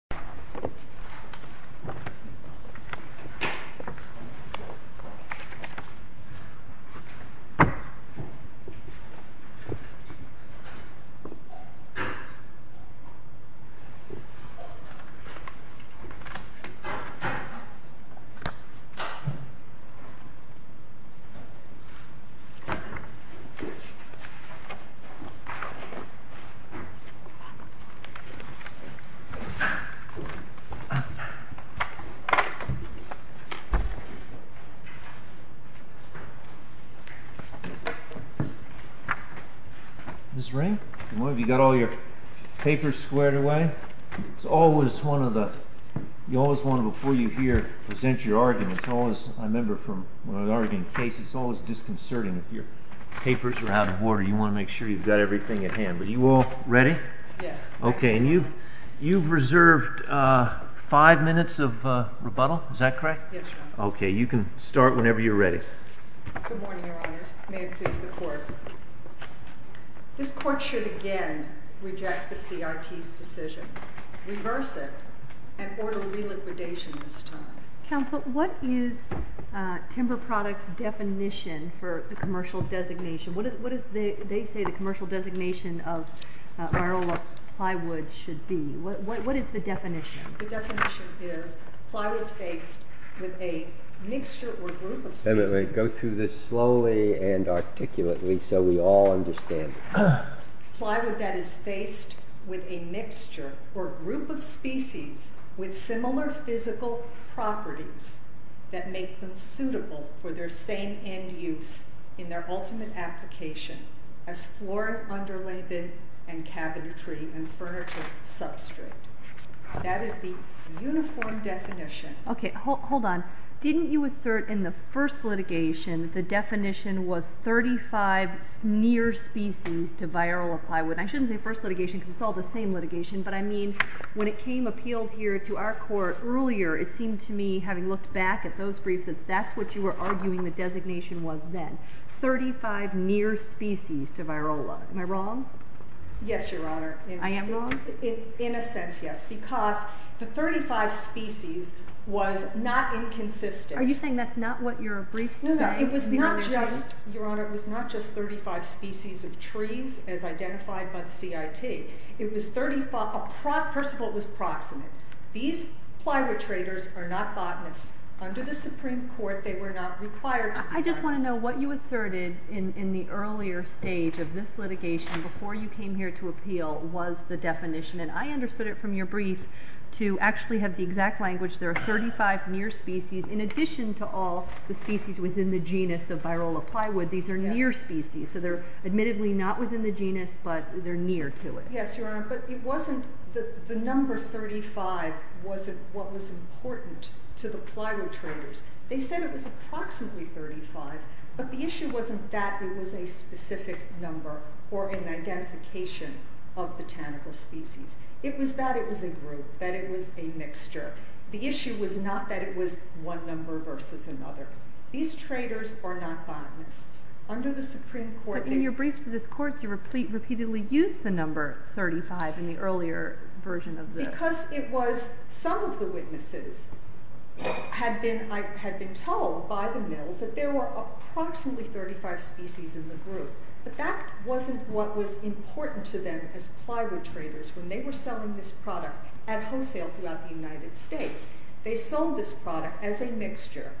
United States Has The Boot Sure Enough This Ring? You got all your papers squared away? It's always one of the... You always want to, before you hear, present your argument. It's always, I remember from an argument case, it's always disconcerting. If your papers are out of order, you want to make sure you've got everything at hand. But you all ready? Yes. Okay, and you've reserved five minutes of rebuttal, is that correct? Yes, Your Honor. Okay, you can start whenever you're ready. Good morning, Your Honors. May it please the Court. This Court should again reject the CRT's decision, reverse it, and order reliquidation this time. Counsel, what is Timber Products' definition for the commercial designation? What do they say the commercial designation of myrtlewood plywood should be? What is the definition? The definition is plywood faced with a mixture or group of species... Go through this slowly and articulately so we all understand. Plywood that is faced with a mixture or group of species with similar physical properties that make them suitable for their same end use in their ultimate application as floor and underlayment and cabinetry and furniture substrate. That is the uniform definition. Okay, hold on. Didn't you assert in the first litigation the definition was 35 near species to viral plywood? I shouldn't say first litigation because it's all the same litigation, but I mean when it came appealed here to our court earlier, it seemed to me having looked back at those briefs that that's what you were arguing the designation was then. 35 near species to virola. Am I wrong? Yes, Your Honor. I am wrong? In a sense, yes, because the 35 species was not inconsistent. Are you saying that's not what your briefs say? No, it was not just, Your Honor, it was not just 35 species of trees as identified by the CIT. It was 35, first of all, it was proximate. These plywood traders are not botanists. Under the Supreme Court, they were not required to be botanists. I just want to know what you asserted in the earlier stage of this litigation before you came here to appeal was the definition, and I understood it from your brief to actually have the exact language. There are 35 near species in addition to all the species within the genus of virola plywood. These are near species, so they're admittedly not within the genus, but they're near to it. Yes, Your Honor, but the number 35 wasn't what was important to the plywood traders. They said it was approximately 35, but the issue wasn't that it was a specific number or an identification of botanical species. It was that it was a group, that it was a mixture. The issue was not that it was one number versus another. These traders are not botanists. Under the Supreme Court, they... But in your brief to this Court, you repeatedly used the number 35 in the earlier version of the... Because it was some of the witnesses had been told by the Mills that there were approximately 35 species in the group, but that wasn't what was important to them as plywood traders when they were selling this product at wholesale throughout the United States. They sold this product as a mixture,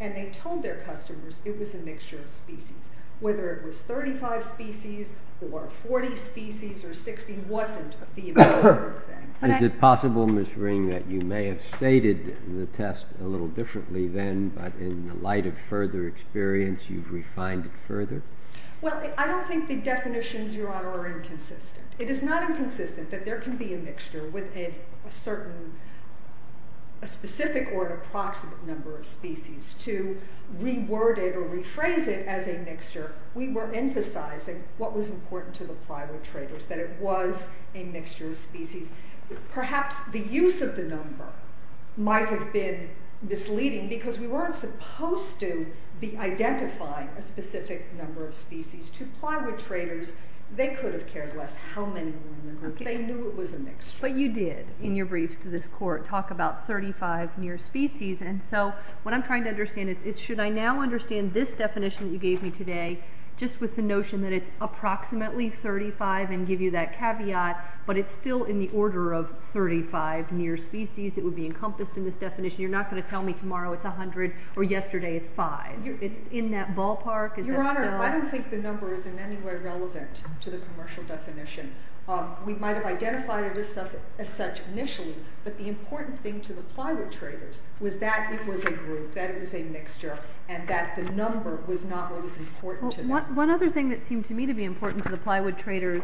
and they told their customers it was a mixture of species. Whether it was 35 species or 40 species or 60 wasn't the important thing. Is it possible, Ms. Ring, that you may have stated the test a little differently then, but in the light of further experience, you've refined it further? Well, I don't think the definitions, Your Honor, are inconsistent. It is not inconsistent that there can be a mixture with a certain... a specific or an approximate number of species. To reword it or rephrase it as a mixture, we were emphasizing what was important to the plywood traders, that it was a mixture of species. Perhaps the use of the number might have been misleading to plywood traders. They could have cared less how many were in the group. They knew it was a mixture. But you did, in your briefs to this Court, talk about 35 near species, and so what I'm trying to understand is, should I now understand this definition you gave me today just with the notion that it's approximately 35 and give you that caveat, but it's still in the order of 35 near species that would be encompassed in this definition? You're not going to tell me tomorrow it's 100 or yesterday it's 5. It's in that ballpark? Your Honor, I don't think the number is in any way relevant to the commercial definition. We might have identified it as such initially, but the important thing to the plywood traders was that it was a group, that it was a mixture, and that the number was not what was important to them. One other thing that seemed to me to be important to the plywood traders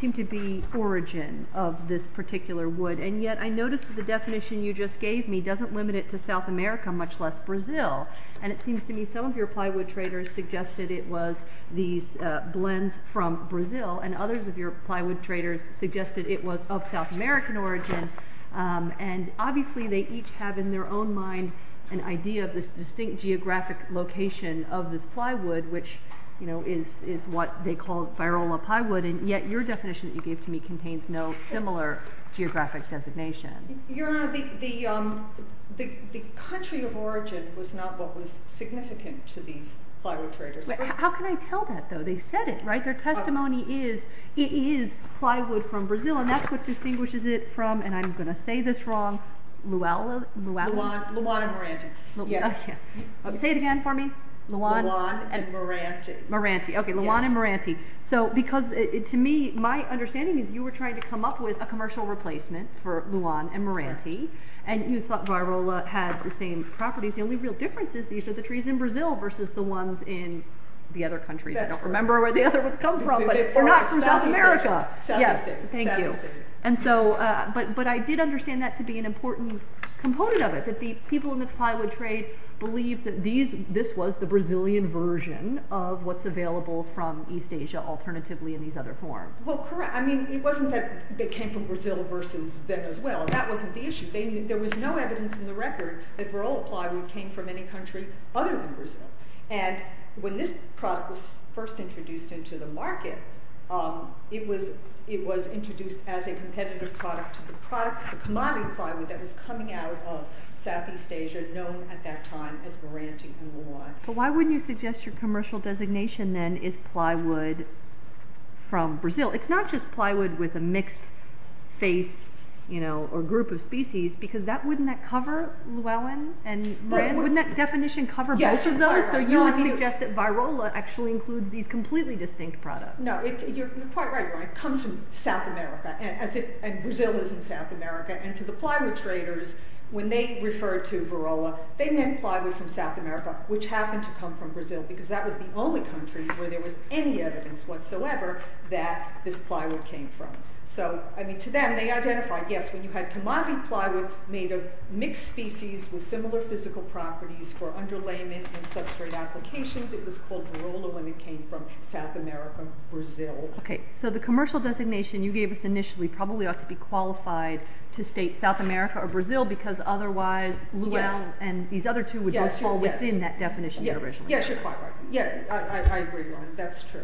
seemed to be origin of this particular wood, and yet I noticed the definition you just gave me doesn't limit it to South America, much less Brazil, and it seems to me some of your plywood traders suggested it was these blends from Brazil, and others of your plywood traders suggested it was of South American origin, and obviously they each have in their own mind an idea of this distinct geographic location of this plywood, which is what they call virola plywood, and yet your definition that you gave to me contains no similar geographic designation. Your Honor, the country of origin was not what was significant to these plywood traders. How can I tell that, though? They said it, right? Their testimony is, it is plywood from Brazil, and that's what distinguishes it from, and I'm going to say this wrong, Luana and Morante. Say it again for me. Luana and Morante. Okay, Luana and Morante. So, because to me, my understanding is you were trying to come up with a commercial replacement for Luana and Morante, and you thought virola had the same properties. The only real difference is these are the trees in Brazil, versus the ones in the other countries. I don't remember where the other ones come from, but they're not from South America. Thank you. But I did understand that to be an important component of it, that the people in the plywood trade believed that this was the Brazilian version of what's available from East Asia, alternatively in these other forms. Well, correct. I mean, it wasn't that they came from Brazil versus Venezuela. That wasn't the issue. There was no evidence in the record that virola plywood came from any country other than Brazil. When this product was first introduced into the market, it was introduced as a competitive product to the commodity plywood that was coming out of Southeast Asia, known at that time as Morante and Luana. But why wouldn't you suggest your commercial designation, then, is plywood from Brazil? It's not just plywood with a mixed face or group of species, because wouldn't that cover Luana and Morante? Wouldn't that definition cover both of those? So you would suggest that virola actually includes these completely distinct products. No, you're quite right. It comes from South America, and Brazil is in South America. And to the plywood traders, when they referred to virola, they meant plywood from South America, which happened to come from Brazil, because that was the only country where there was any evidence whatsoever that this plywood came from. So, I mean, to them, they identified, yes, when you had commodity plywood made of mixed species with similar physical properties for underlayment and substrate applications, it was called virola when it came from South America, Brazil. Okay, so the commercial designation you gave us initially probably ought to be qualified to state South America or Brazil, because otherwise Luana and these other two would just fall within that definition. Yes, you're quite right. Yes, I agree, Lauren, that's true.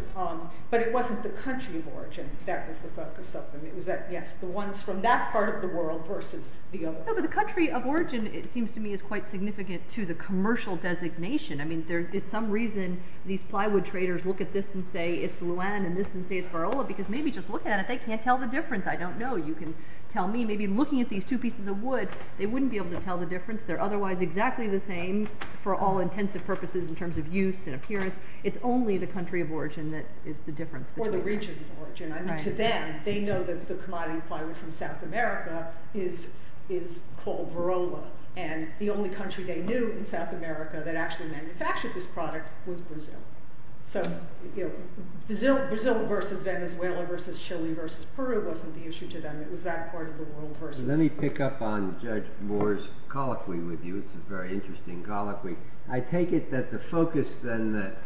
But it wasn't the country of origin that was the focus of them. It was that, yes, the ones from that part of the world versus the other. No, but the country of origin, it seems to me, is quite significant to the commercial designation. I mean, there is some reason these plywood traders look at this and say it's Luana and this and say it's virola, because maybe just looking at it, they can't tell the difference. I don't know. You can tell me. Maybe looking at these two pieces of wood, they wouldn't be able to tell the difference. They're otherwise exactly the same for all intents and purposes in terms of use and appearance. It's only the country of origin that is the difference. Or the region of origin. I mean, to them, they know that the commodity plywood from South America is called virola, and the only country they knew in South America that actually manufactured this product was Brazil. So Brazil versus Venezuela versus Chile versus Peru wasn't the issue to them. It was that part of the world versus. Let me pick up on Judge Moore's colloquy with you. It's a very interesting colloquy. I take it that the focus then that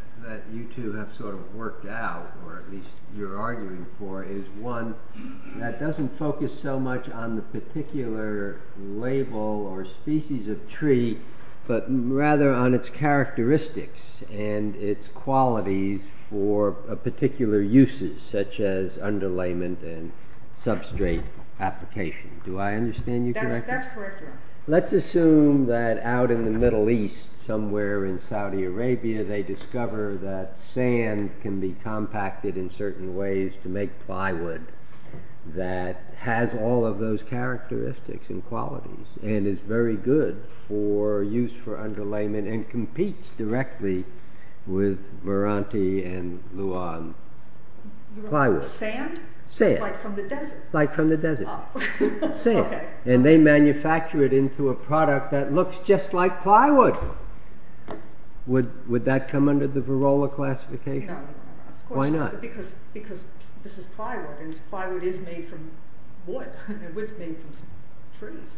you two have sort of worked out, or at least you're arguing for, is one that doesn't focus so much on the particular label or species of tree, but rather on its characteristics and its qualities for particular uses, such as underlayment and substrate application. Do I understand you correctly? That's correct, Your Honor. Let's assume that out in the Middle East, somewhere in Saudi Arabia, they discover that sand can be compacted in certain ways to make plywood that has all of those characteristics and qualities and is very good for use for underlayment and competes directly with Veranti and Luan plywood. Sand? Sand. Like from the desert? Like from the desert. Sand. And they manufacture it into a product that looks just like plywood. Would that come under the virola classification? No. Why not? Because this is plywood, and plywood is made from wood. Wood is made from trees.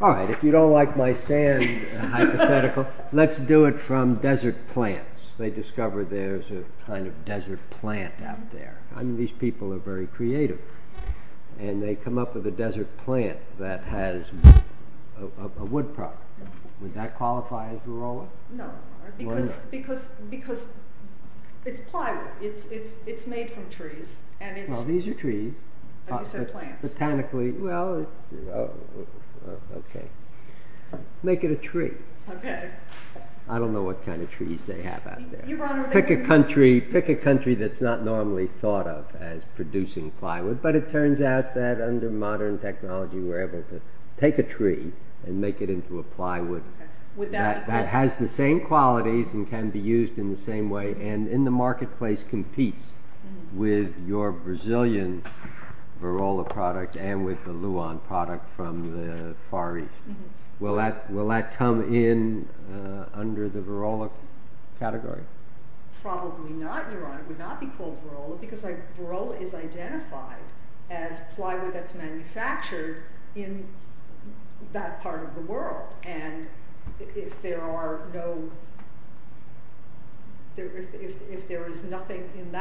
All right. If you don't like my sand hypothetical, let's do it from desert plants. They discover there's a kind of desert plant out there. These people are very creative, and they come up with a desert plant that has a wood product. Would that qualify as virola? No, Your Honor, because it's plywood. It's made from trees. Well, these are trees. Botanically, well, okay. Make it a tree. I don't know what kind of trees they have out there. Pick a country that's not normally thought of as producing plywood, but it turns out that under modern technology we're able to take a tree and make it into a plywood that has the same qualities and can be used in the same way and in the marketplace competes with your Brazilian virola product and with the Luan product from the Far East. Will that come in under the virola category? Probably not, Your Honor. It would not be called virola because virola is identified If there is nothing in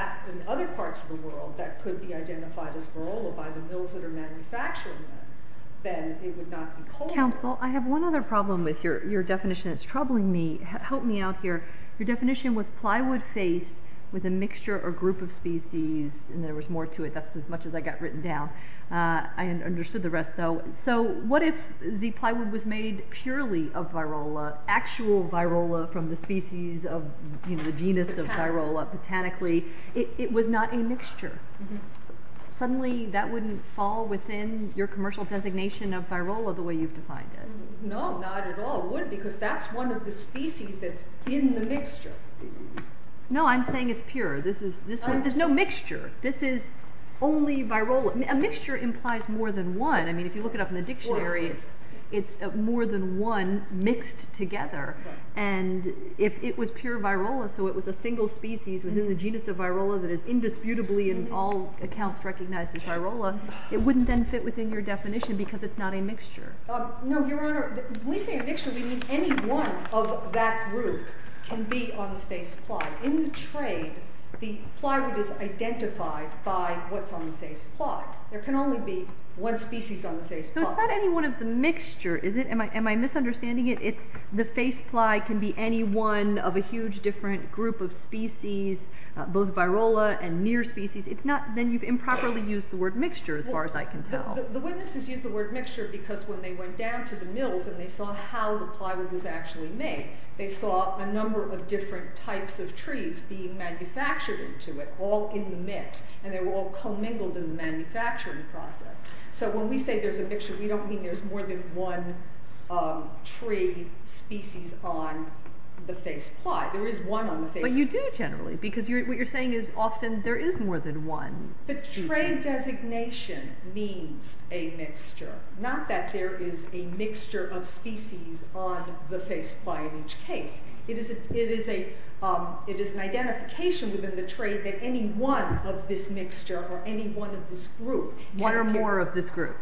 other parts of the world that could be identified as virola by the mills that are manufacturing it, then it would not be called virola. Counsel, I have one other problem with your definition. It's troubling me. Help me out here. Your definition was plywood faced with a mixture or group of species, and there was more to it. I understood the rest, though. So what if the plywood was made purely of virola, actual virola from the species of the genus of virola, botanically? It was not a mixture. Suddenly that wouldn't fall within your commercial designation of virola the way you've defined it. No, not at all. It wouldn't because that's one of the species that's in the mixture. No, I'm saying it's pure. There's no mixture. This is only virola. A mixture implies more than one. If you look it up in the dictionary, it's more than one mixed together. If it was pure virola, so it was a single species within the genus of virola that is indisputably in all accounts recognized as virola, it wouldn't then fit within your definition because it's not a mixture. No, Your Honor. When we say a mixture, we mean any one of that group can be on the face plywood. In the trade, the plywood is identified by what's on the face plywood. There can only be one species on the face plywood. So it's not any one of the mixture, is it? Am I misunderstanding it? The face ply can be any one of a huge different group of species, both virola and near species. Then you've improperly used the word mixture as far as I can tell. The witnesses used the word mixture because when they went down to the mills and they saw how the plywood was actually made, they saw a number of different types of trees being manufactured into it that were all in the mix and they were all commingled in the manufacturing process. So when we say there's a mixture, we don't mean there's more than one tree species on the face ply. There is one on the face ply. But you do generally because what you're saying is often there is more than one. The trade designation means a mixture, not that there is a mixture of species on the face ply in each case. It is an identification within the trade that any one of this mixture or any one of this group can appear. One or more of this group.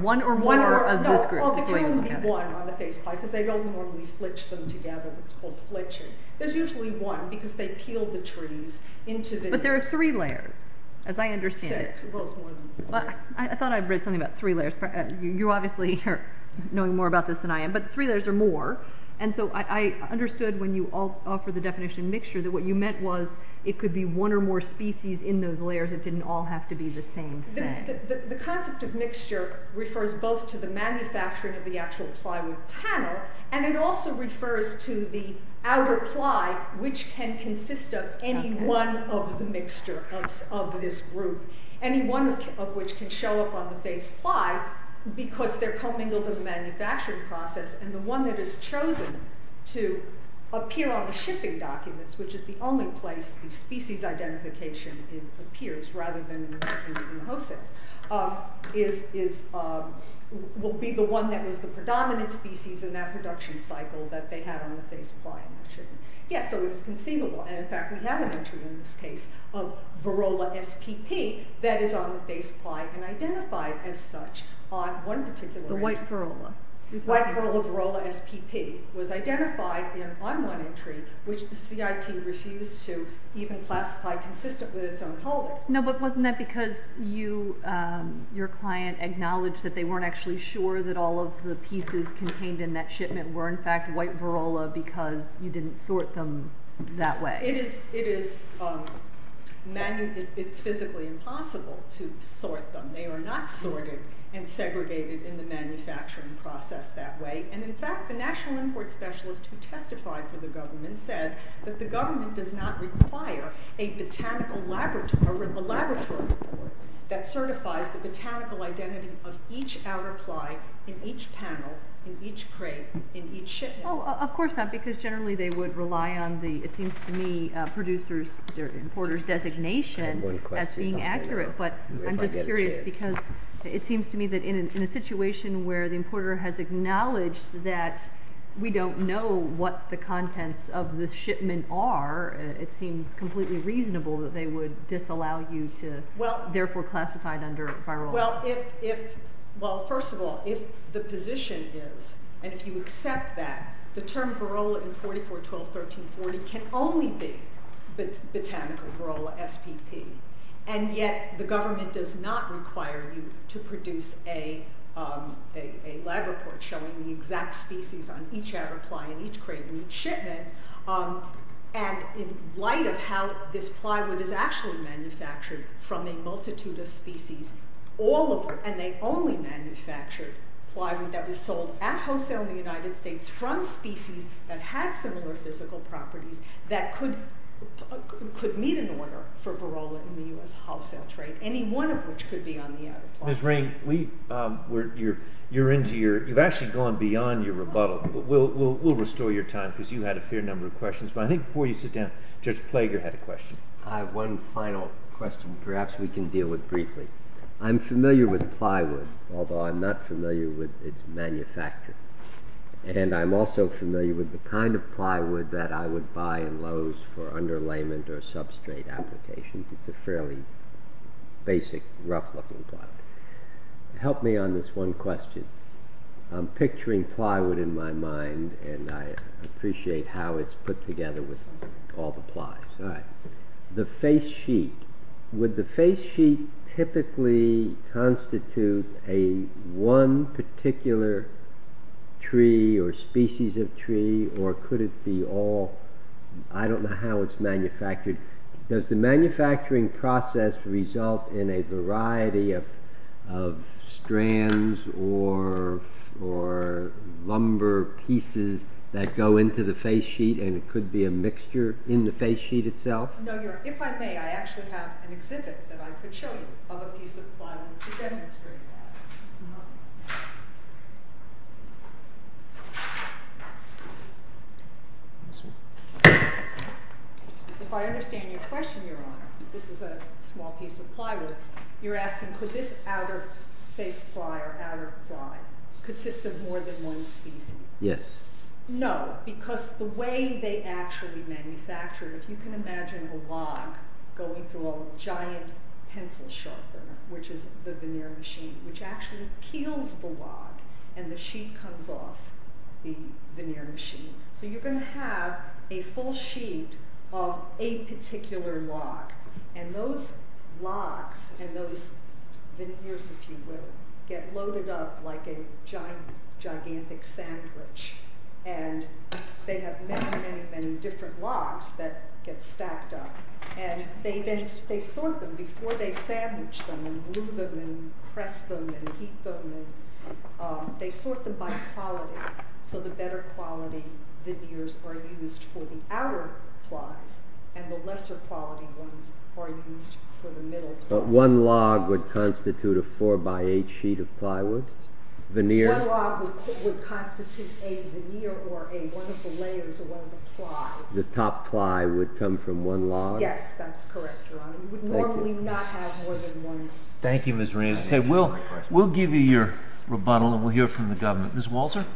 One or more of this group. No, there can only be one on the face ply because they don't normally flitch them together. It's called flitching. There's usually one because they peel the trees into the- But there are three layers, as I understand it. Except, well, it's more than one. I thought I read something about three layers. You obviously are knowing more about this than I am, but three layers are more. And so I understood when you offered the definition of mixture that what you meant was it could be one or more species in those layers. It didn't all have to be the same thing. The concept of mixture refers both to the manufacturing of the actual plywood panel and it also refers to the outer ply, which can consist of any one of the mixture of this group, any one of which can show up on the face ply because they're commingled in the manufacturing process. And the one that is chosen to appear on the shipping documents, which is the only place the species identification appears rather than in the host cells, will be the one that is the predominant species in that production cycle that they have on the face ply. Yes, so it was conceivable. And in fact, we have an entry in this case of Varrola SPP that is on the face ply and identified as such on one particular- The white Varrola. The white Varrola SPP was identified on one entry, which the CIT refused to even classify consistently its own color. No, but wasn't that because your client acknowledged that they weren't actually sure that all of the pieces contained in that shipment were in fact white Varrola because you didn't sort them that way? It is physically impossible to sort them. They are not sorted and segregated in the manufacturing process that way. And in fact, the national import specialist who testified for the government said that the government does not require a laboratory report that certifies the botanical identity of each outer ply in each panel, in each crate, in each shipment. Of course not because generally they would rely on the, it seems to me, producer's or importer's designation as being accurate. But I'm just curious because it seems to me that in a situation where the importer has acknowledged that we don't know what the contents of the shipment are, it seems completely reasonable that they would disallow you to therefore classify it under Varrola. Well, first of all, if the position is, and if you accept that, the term Varrola in 44-12-13-40 can only be botanical Varrola SPP. And yet the government does not require you to produce a lab report showing the exact species on each outer ply in each crate in each shipment. And in light of how this plywood is actually manufactured from a multitude of species, all of it, and they only manufactured plywood that was sold at wholesale in the United States from species that had similar physical properties that could meet an order for Varrola in the U.S. wholesale trade, any one of which could be on the outer ply. Ms. Rain, you've actually gone beyond your rebuttal. We'll restore your time because you had a fair number of questions. But I think before you sit down, Judge Plager had a question. I have one final question perhaps we can deal with briefly. I'm familiar with plywood, although I'm not familiar with its manufacture. And I'm also familiar with the kind of plywood that I would buy in Lowe's for underlayment or substrate applications. It's a fairly basic, rough-looking plywood. Help me on this one question. I'm picturing plywood in my mind, and I appreciate how it's put together with all the plies. The face sheet, would the face sheet typically constitute a one particular tree or species of tree, or could it be all? I don't know how it's manufactured. Does the manufacturing process result in a variety of strands or lumber pieces that go into the face sheet, and it could be a mixture in the face sheet itself? If I may, I actually have an exhibit that I could show you of a piece of plywood to demonstrate that. If I understand your question, Your Honor, this is a small piece of plywood. You're asking, could this outer face ply or outer ply consist of more than one species? Yes. No, because the way they actually manufacture it, if you can imagine a log going through a giant pencil sharpener, which is the veneer machine, which actually peels the log, and the sheet comes off the veneer machine. So you're going to have a full sheet of a particular log, and those logs and those veneers, if you will, get loaded up like a gigantic sandwich. And they have many, many, many different logs that get stacked up. And they sort them before they sandwich them and glue them and press them and heat them. They sort them by quality, so the better quality veneers are used for the outer plies, and the lesser quality ones are used for the middle plies. One log would constitute a 4-by-8 sheet of plywood? One log would constitute a veneer or one of the layers or one of the plies. The top ply would come from one log? Yes, that's correct, Your Honor. You would normally not have more than one. Thank you, Ms. Raines. We'll give you your rebuttal, and we'll hear from the government. Ms. Walter?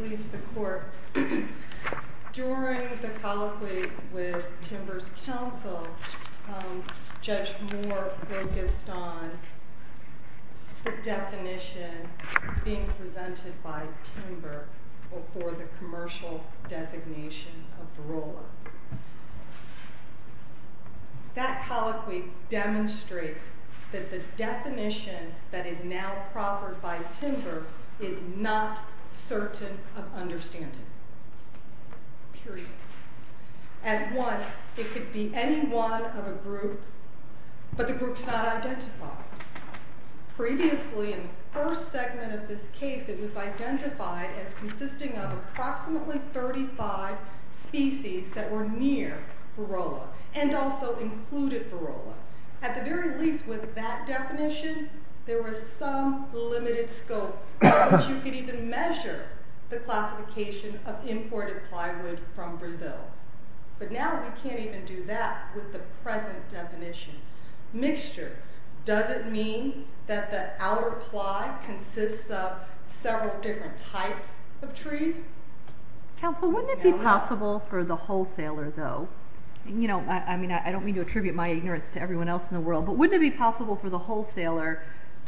Please, the court. During the colloquy with Timber's counsel, Judge Moore focused on the definition being presented by Timber for the commercial designation of Barola. That colloquy demonstrates that the definition that is now proffered by Timber is not certain of understanding, period. At once, it could be any one of a group, but the group's not identified. Previously, in the first segment of this case, it was identified as consisting of approximately 35 species that were near Barola and also included Barola. At the very least, with that definition, there was some limited scope in which you could even measure the classification of imported plywood from Brazil. But now we can't even do that with the present definition. Mixture. Does it mean that the outer ply consists of several different types of trees? Counsel, wouldn't it be possible for the wholesaler, though? I don't mean to attribute my ignorance to everyone else in the world, but wouldn't it be possible for the wholesaler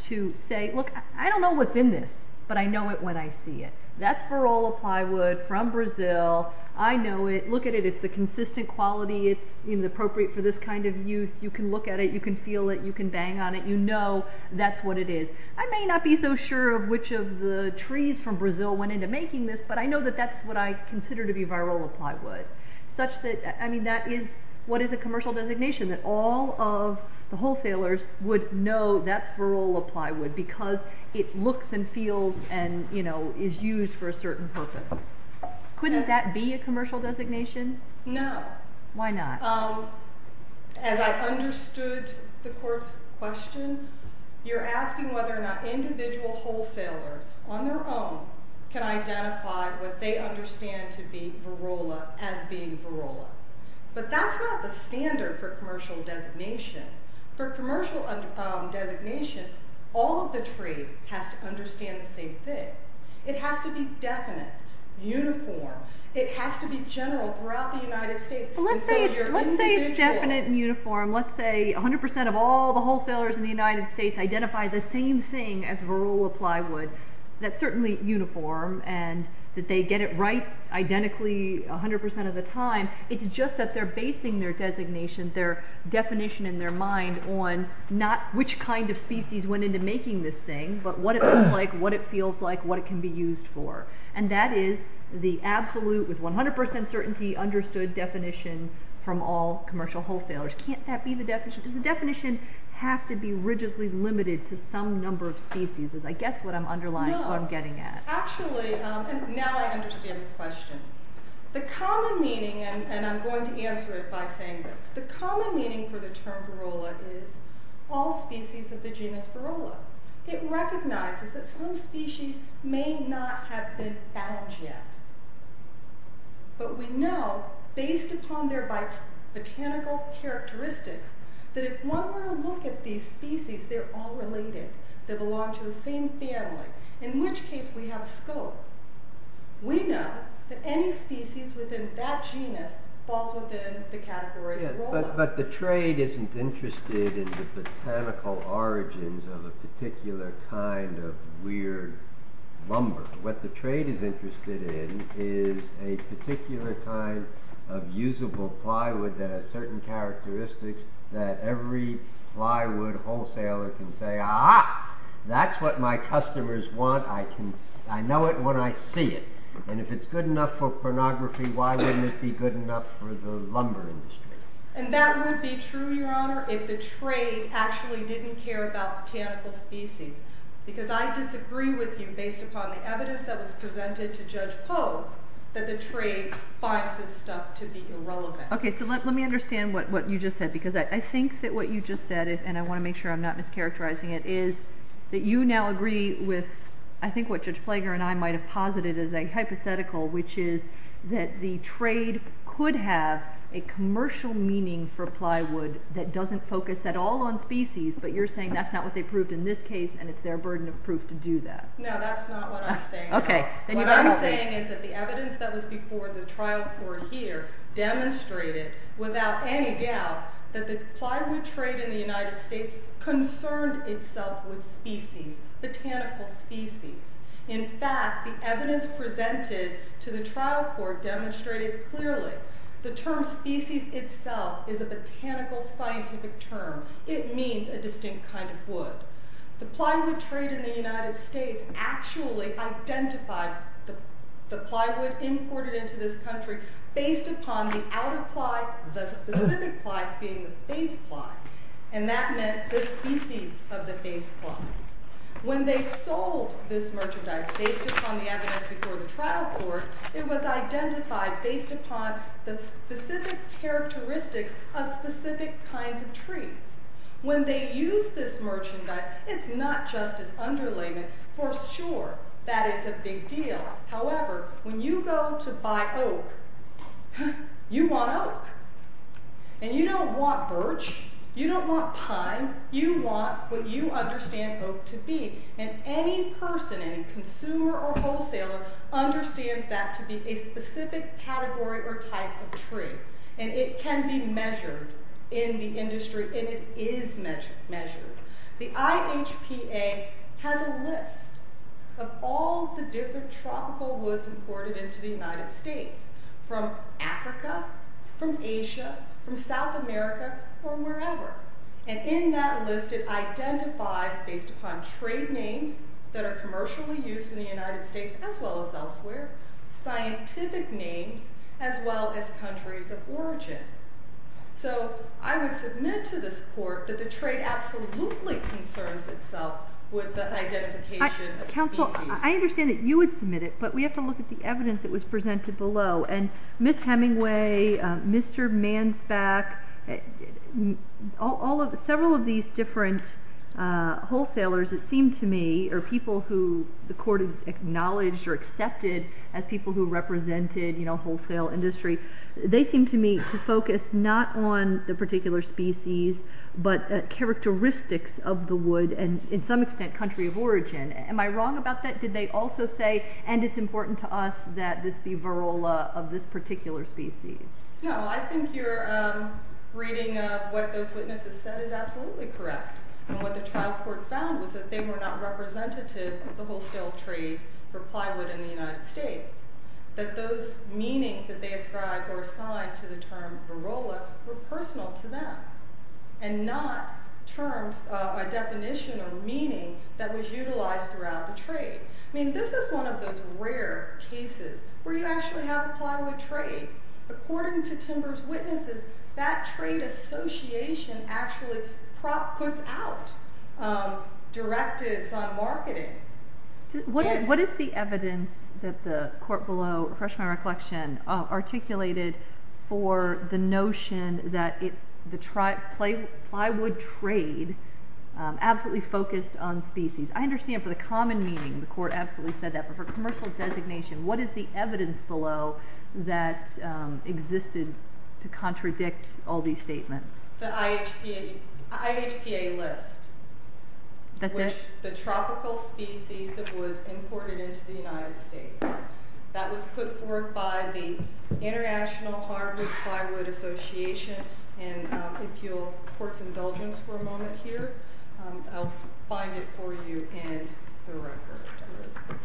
to say, look, I don't know what's in this, but I know it when I see it. That's Barola plywood from Brazil. I know it. Look at it. It's a consistent quality. It's appropriate for this kind of use. You can look at it. You can feel it. You can bang on it. You know that's what it is. I may not be so sure of which of the trees from Brazil went into making this, but I know that that's what I consider to be Barola plywood. That is what is a commercial designation, that all of the wholesalers would know that's Barola plywood because it looks and feels and is used for a certain purpose. Couldn't that be a commercial designation? No. Why not? As I understood the court's question, you're asking whether or not individual wholesalers, on their own, can identify what they understand to be Barola as being Barola. But that's not the standard for commercial designation. For commercial designation, all of the tree has to understand the same thing. It has to be definite, uniform. It has to be general throughout the United States. Let's say it's definite and uniform. Let's say 100% of all the wholesalers in the United States identify the same thing as Barola plywood. That's certainly uniform, and that they get it right identically 100% of the time. It's just that they're basing their designation, their definition in their mind, on not which kind of species went into making this thing, but what it looks like, what it feels like, what it can be used for. And that is the absolute, with 100% certainty, understood definition from all commercial wholesalers. Can't that be the definition? Does the definition have to be rigidly limited to some number of species? I guess what I'm underlying, what I'm getting at. Actually, now I understand the question. The common meaning, and I'm going to answer it by saying this, the common meaning for the term Barola is all species of the genus Barola. It recognizes that some species may not have been found yet. But we know, based upon their botanical characteristics, that if one were to look at these species, they're all related. They belong to the same family. In which case we have scope. We know that any species within that genus falls within the category of Barola. But the trade isn't interested in the botanical origins of a particular kind of weird lumber. What the trade is interested in is a particular kind of usable plywood that has certain characteristics that every plywood wholesaler can say, ah, that's what my customers want. I know it when I see it. And if it's good enough for pornography, why wouldn't it be good enough for the lumber industry? And that would be true, Your Honor, if the trade actually didn't care about botanical species. Because I disagree with you, based upon the evidence that was presented to Judge Poe, that the trade finds this stuff to be irrelevant. Okay, so let me understand what you just said. Because I think that what you just said, and I want to make sure I'm not mischaracterizing it, is that you now agree with, I think, what Judge Flager and I might have posited as a hypothetical, which is that the trade could have a commercial meaning for plywood that doesn't focus at all on species, but you're saying that's not what they proved in this case, and it's their burden of proof to do that. No, that's not what I'm saying. What I'm saying is that the evidence that was before the trial court here demonstrated without any doubt that the plywood trade in the United States concerned itself with species, botanical species. In fact, the evidence presented to the trial court demonstrated clearly the term species itself is a botanical scientific term. It means a distinct kind of wood. The plywood trade in the United States actually identified the plywood imported into this country based upon the outer ply, the specific ply being the base ply, and that meant the species of the base ply. When they sold this merchandise based upon the evidence before the trial court, it was identified based upon the specific characteristics of specific kinds of trees. When they used this merchandise, it's not just as underlayment. For sure, that is a big deal. However, when you go to buy oak, you want oak, and you don't want birch. You don't want pine. You want what you understand oak to be, and any person, any consumer or wholesaler, understands that to be a specific category or type of tree, and it can be measured in the industry, and it is measured. The IHPA has a list of all the different tropical woods imported into the United States from Africa, from Asia, from South America, or wherever, and in that list, it identifies, based upon trade names that are commercially used in the United States as well as elsewhere, scientific names as well as countries of origin. So I would submit to this court that the trade absolutely concerns itself with the identification of species. Counsel, I understand that you would submit it, but we have to look at the evidence that was presented below, and Ms. Hemingway, Mr. Mansbach, several of these different wholesalers, it seemed to me, or people who the court has acknowledged or accepted as people who represented wholesale industry, they seem to me to focus not on the particular species, but characteristics of the wood, and in some extent, country of origin. Am I wrong about that? Did they also say, and it's important to us that this be varroa of this particular species? No, I think your reading of what those witnesses said is absolutely correct, and what the trial court found was that they were not representative of the wholesale trade for plywood in the United States, that those meanings that they ascribed or assigned to the term varroa were personal to them, and not terms, a definition or meaning that was utilized throughout the trade. I mean, this is one of those rare cases where you actually have a plywood trade. According to Timber's witnesses, that trade association actually puts out directives on marketing. What is the evidence that the court below, to refresh my recollection, articulated for the notion that the plywood trade absolutely focused on species? I understand for the common meaning, the court absolutely said that, but for commercial designation, what is the evidence below that existed to contradict all these statements? The IHPA list, which the tropical species of woods imported into the United States. That was put forth by the International Hardwood Plywood Association, and if you'll court's indulgence for a moment here, I'll find it for you in the record.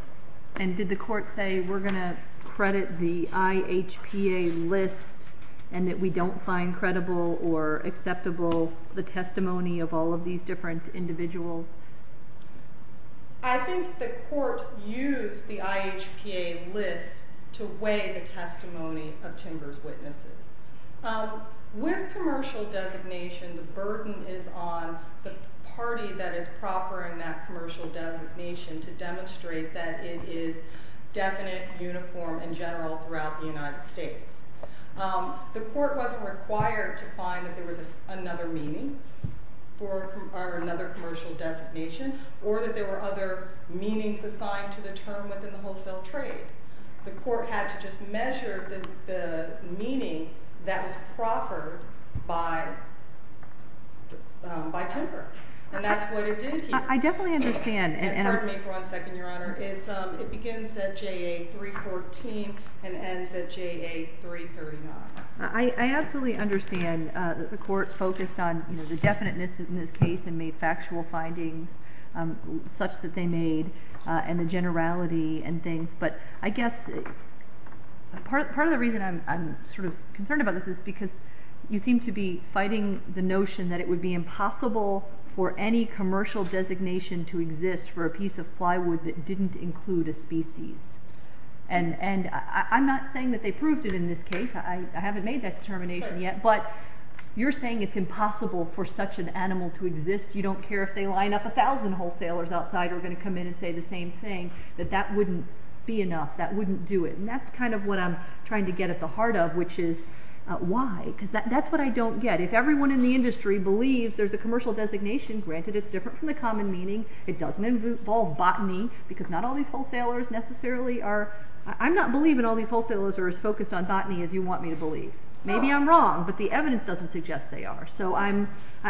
And did the court say, we're going to credit the IHPA list, and that we don't find credible or acceptable the testimony of all of these different individuals? I think the court used the IHPA list to weigh the testimony of Timber's witnesses. With commercial designation, the burden is on the party that is proffering that commercial designation to demonstrate that it is definite, uniform, and general throughout the United States. The court wasn't required to find that there was another meaning for another commercial designation, or that there were other meanings assigned to the term within the wholesale trade. The court had to just measure the meaning that was proffered by Timber, and that's what it did here. I definitely understand. Pardon me for one second, Your Honor. It begins at JA 314 and ends at JA 339. I absolutely understand. The court focused on the definiteness in this case and made factual findings such that they made, and the generality and things. But I guess part of the reason I'm sort of concerned about this is because you seem to be fighting the notion that it would be impossible for any commercial designation to exist for a piece of plywood that didn't include a species. And I'm not saying that they proved it in this case. I haven't made that determination yet. But you're saying it's impossible for such an animal to exist. You don't care if they line up a thousand wholesalers outside who are going to come in and say the same thing, that that wouldn't be enough. That wouldn't do it. And that's kind of what I'm trying to get at the heart of, which is, why? Because that's what I don't get. If everyone in the industry believes there's a commercial designation, granted it's different from the common meaning, it doesn't involve botany, because not all these wholesalers necessarily are... I'm not believing all these wholesalers are as focused on botany as you want me to believe. Maybe I'm wrong, but the evidence doesn't suggest they are. So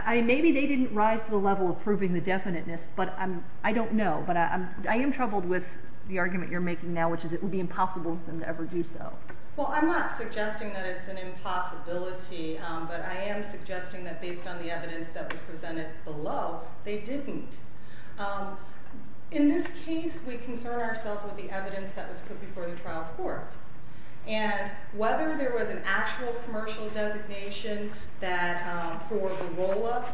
maybe they didn't rise to the level of proving the definiteness, but I don't know. But I am troubled with the argument you're making now, which is it would be impossible for them to ever do so. Well, I'm not suggesting that it's an impossibility, but I am suggesting that based on the evidence that was presented below, they didn't. In this case, we concern ourselves with the evidence that was put before the trial court. And whether there was an actual commercial designation for the rolla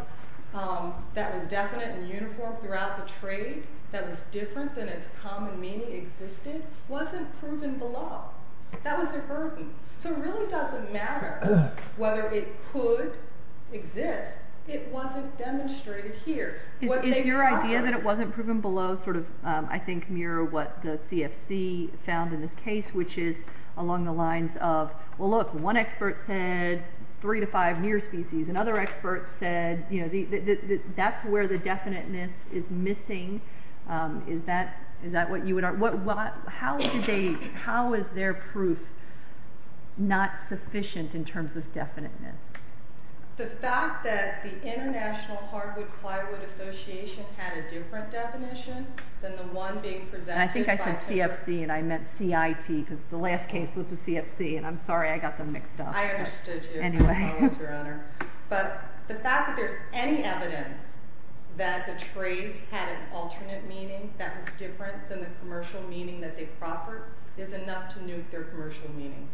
that was definite and uniform throughout the trade that was different than its common meaning existed wasn't proven below. That was a burden. So it really doesn't matter whether it could exist. It wasn't demonstrated here. Is your idea that it wasn't proven below sort of, I think, mirror what the CFC found in this case, which is along the lines of, well, look, one expert said three to five near species. Another expert said that's where the definiteness is missing. Is that what you would argue? How is their proof not sufficient in terms of definiteness? The fact that the International Hardwood-Plywood Association had a different definition than the one being presented by... I said CFC and I meant CIT because the last case was the CFC. And I'm sorry I got them mixed up. I understood you. I apologize, Your Honor. But the fact that there's any evidence that the trade had an alternate meaning that was different than the commercial meaning that they proffered is enough to nuke their commercial meaning.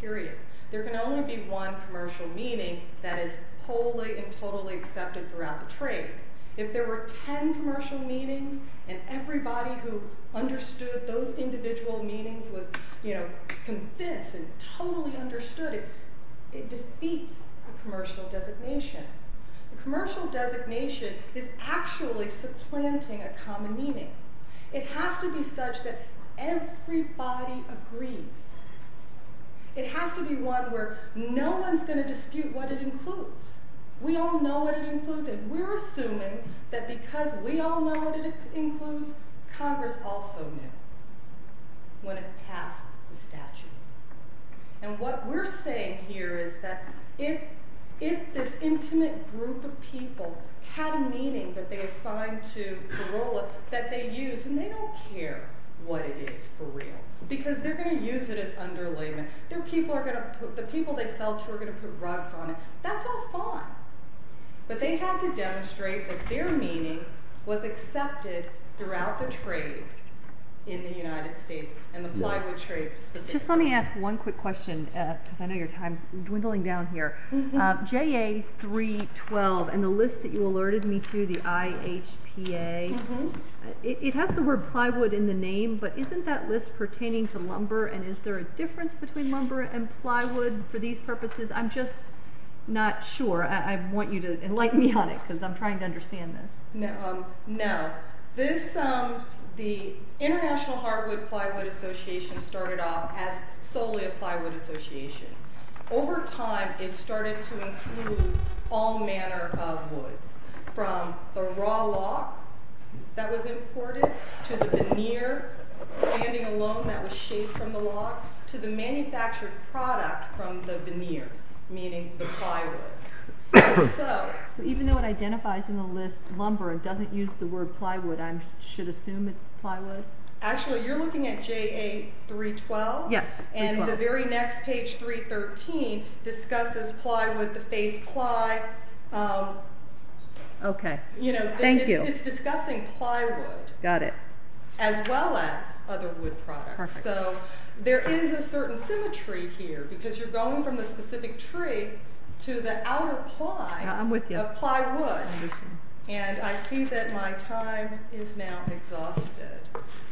Period. There can only be one commercial meaning that is wholly and totally accepted throughout the trade. If there were ten commercial meanings and everybody who understood those individual meanings was convinced and totally understood it, it defeats the commercial designation. The commercial designation is actually supplanting a common meaning. It has to be such that everybody agrees. It has to be one where no one's going to dispute what it includes. We all know what it includes, and we're assuming that because we all know what it includes, Congress also knew when it passed the statute. And what we're saying here is that if this intimate group of people had a meaning that they assigned to the role that they used, and they don't care what it is for real because they're going to use it as underlayment. The people they sell to are going to put rugs on it. That's all fine. But they had to demonstrate that their meaning was accepted throughout the trade in the United States, and the plywood trade specifically. Just let me ask one quick question, because I know your time's dwindling down here. JA 312 and the list that you alerted me to, the IHPA, it has the word plywood in the name, but isn't that list pertaining to lumber, and is there a difference between lumber and plywood for these purposes? I'm just not sure. I want you to enlighten me on it, because I'm trying to understand this. No. The International Hardwood Plywood Association started off as solely a plywood association. Over time, it started to include all manner of woods, from the raw log that was imported, to the veneer standing alone that was shaved from the log, to the manufactured product from the veneers, meaning the plywood. So even though it identifies in the list lumber and doesn't use the word plywood, I should assume it's plywood? Actually, you're looking at JA 312? Yes. And the very next page, 313, discusses plywood, the face ply. Okay. Thank you. It's discussing plywood. Got it. As well as other wood products. So there is a certain symmetry here, because you're going from the specific tree to the outer ply of plywood. I'm with you. And I see that my time is now exhausted.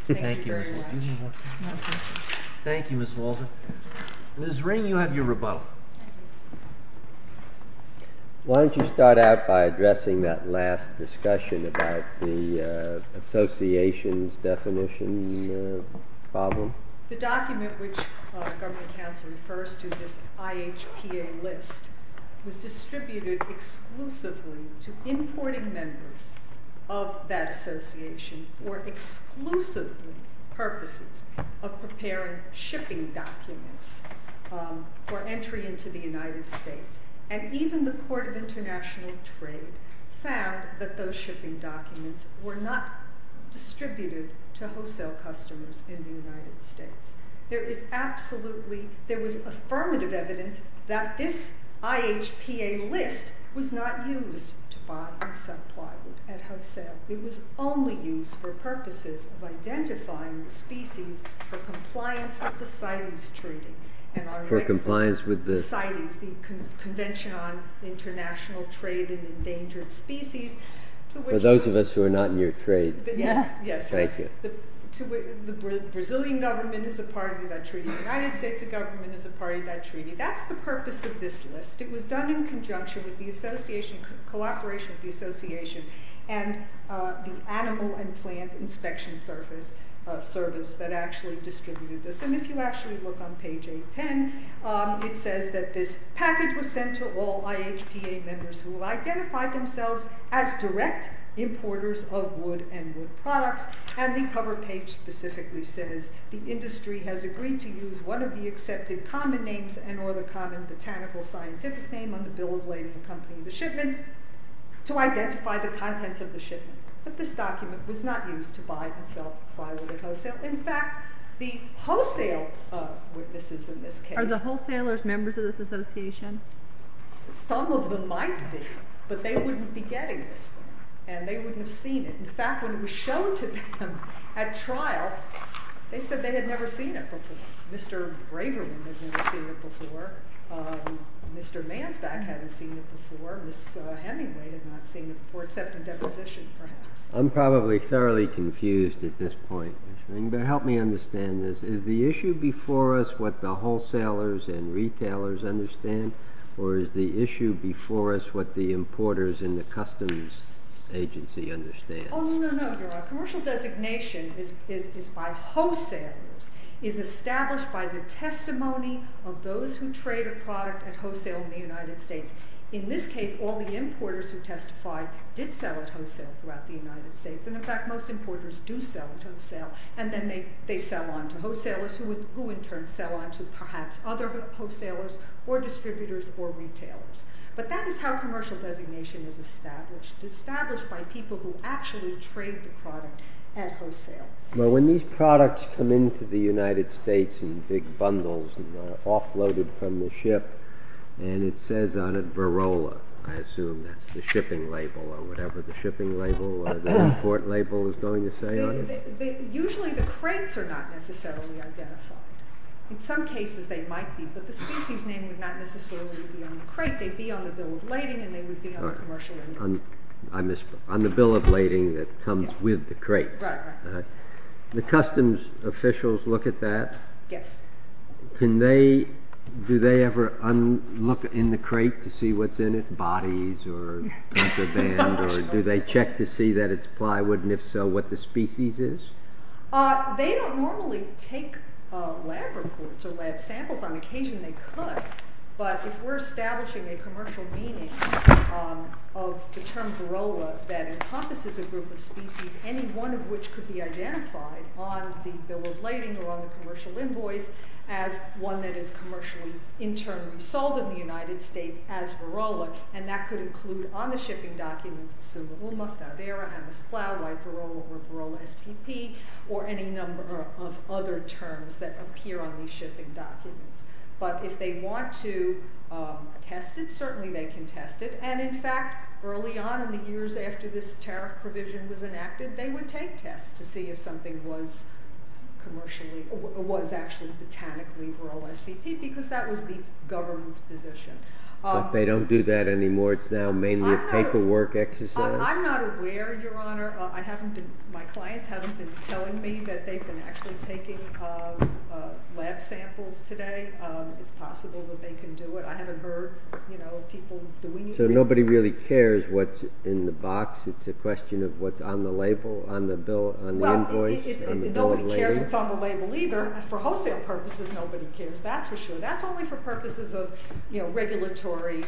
Thank you very much. Thank you, Ms. Walter. Ms. Ring, you have your rebuttal. Why don't you start out by addressing that last discussion about the association's definition problem? The document which government counsel refers to as IHPA list was distributed exclusively to importing members of that association for exclusively purposes of preparing shipping documents for entry into the United States. And even the Court of International Trade found that those shipping documents were not distributed to wholesale customers in the United States. There was affirmative evidence that this IHPA list was not used to buy and supply wood at wholesale. It was only used for purposes of identifying the species for compliance with the CITES treaty. For compliance with the... For those of us who are not in your trade. Yes. Thank you. The Brazilian government is a part of that treaty. The United States government is a part of that treaty. That's the purpose of this list. It was done in conjunction with the cooperation of the association and the animal and plant inspection service that actually distributed this. And if you actually look on page 810, it says that this package was sent to all IHPA members who identified themselves as direct importers of wood and wood products. And the cover page specifically says, the industry has agreed to use one of the accepted common names and or the common botanical scientific name on the bill of lading accompanying the shipment to identify the contents of the shipment. But this document was not used to buy and sell plywood at wholesale. In fact, the wholesale witnesses in this case... Are the wholesalers members of this association? Some of them might be, but they wouldn't be getting this. And they wouldn't have seen it. In fact, when it was shown to them at trial, they said they had never seen it before. Mr. Braverman had never seen it before. Mr. Mansback hadn't seen it before. Ms. Hemingway had not seen it before, except in deposition, perhaps. I'm probably thoroughly confused at this point. But help me understand this. Is the issue before us what the wholesalers and retailers understand? Or is the issue before us what the importers in the customs agency understand? Oh, no, no, no, your Honor. Commercial designation is by wholesalers, is established by the testimony of those who trade a product at wholesale in the United States. In this case, all the importers who testified did sell at wholesale throughout the United States. And in fact, most importers do sell at wholesale. And then they sell on to wholesalers, who in turn sell on to perhaps other wholesalers or distributors or retailers. But that is how commercial designation is established. It's established by people who actually trade the product at wholesale. But when these products come into the United States in big bundles and are offloaded from the ship, and it says on it Verola, I assume that's the shipping label or whatever the shipping label or the import label is going to say on it? Usually the crates are not necessarily identified. In some cases they might be, but the species name would not necessarily be on the crate. They'd be on the bill of lading, and they would be on the commercial label. On the bill of lading that comes with the crate. Right, right. The customs officials look at that? Yes. Do they ever look in the crate to see what's in it, bodies or band, or do they check to see that it's plywood, and if so, what the species is? They don't normally take lab reports or lab samples. On occasion they could. But if we're establishing a commercial meaning of the term Verola that encompasses a group of species, any one of which could be identified on the bill of lading or on the commercial invoice as one that is commercially, in turn, sold in the United States as Verola, and that could include on the shipping documents Sumauma, Fouvera, Amosplau, White Verola, or Verola SPP, or any number of other terms that appear on the shipping documents. But if they want to test it, certainly they can test it. And in fact, early on in the years after this tariff provision was enacted, they would take tests to see if something was commercially, was actually botanically Verola SPP, because that was the government's position. But they don't do that anymore. It's now mainly a paperwork exercise. I'm not aware, Your Honor. My clients haven't been telling me that they've been actually taking lab samples today. It's possible that they can do it. I haven't heard people doing anything. So nobody really cares what's in the box. It's a question of what's on the label, on the invoice, on the bill of lading. Nobody cares what's on the label either. For wholesale purposes, nobody cares, that's for sure. That's only for purposes of regulatory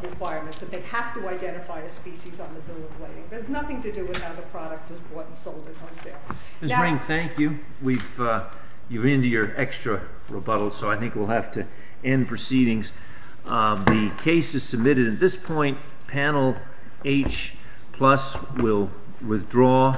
requirements, that they have to identify a species on the bill of lading. It has nothing to do with how the product is bought and sold at wholesale. Ms. Ring, thank you. You're into your extra rebuttals, so I think we'll have to end proceedings. The case is submitted at this point. Panel H plus will withdraw.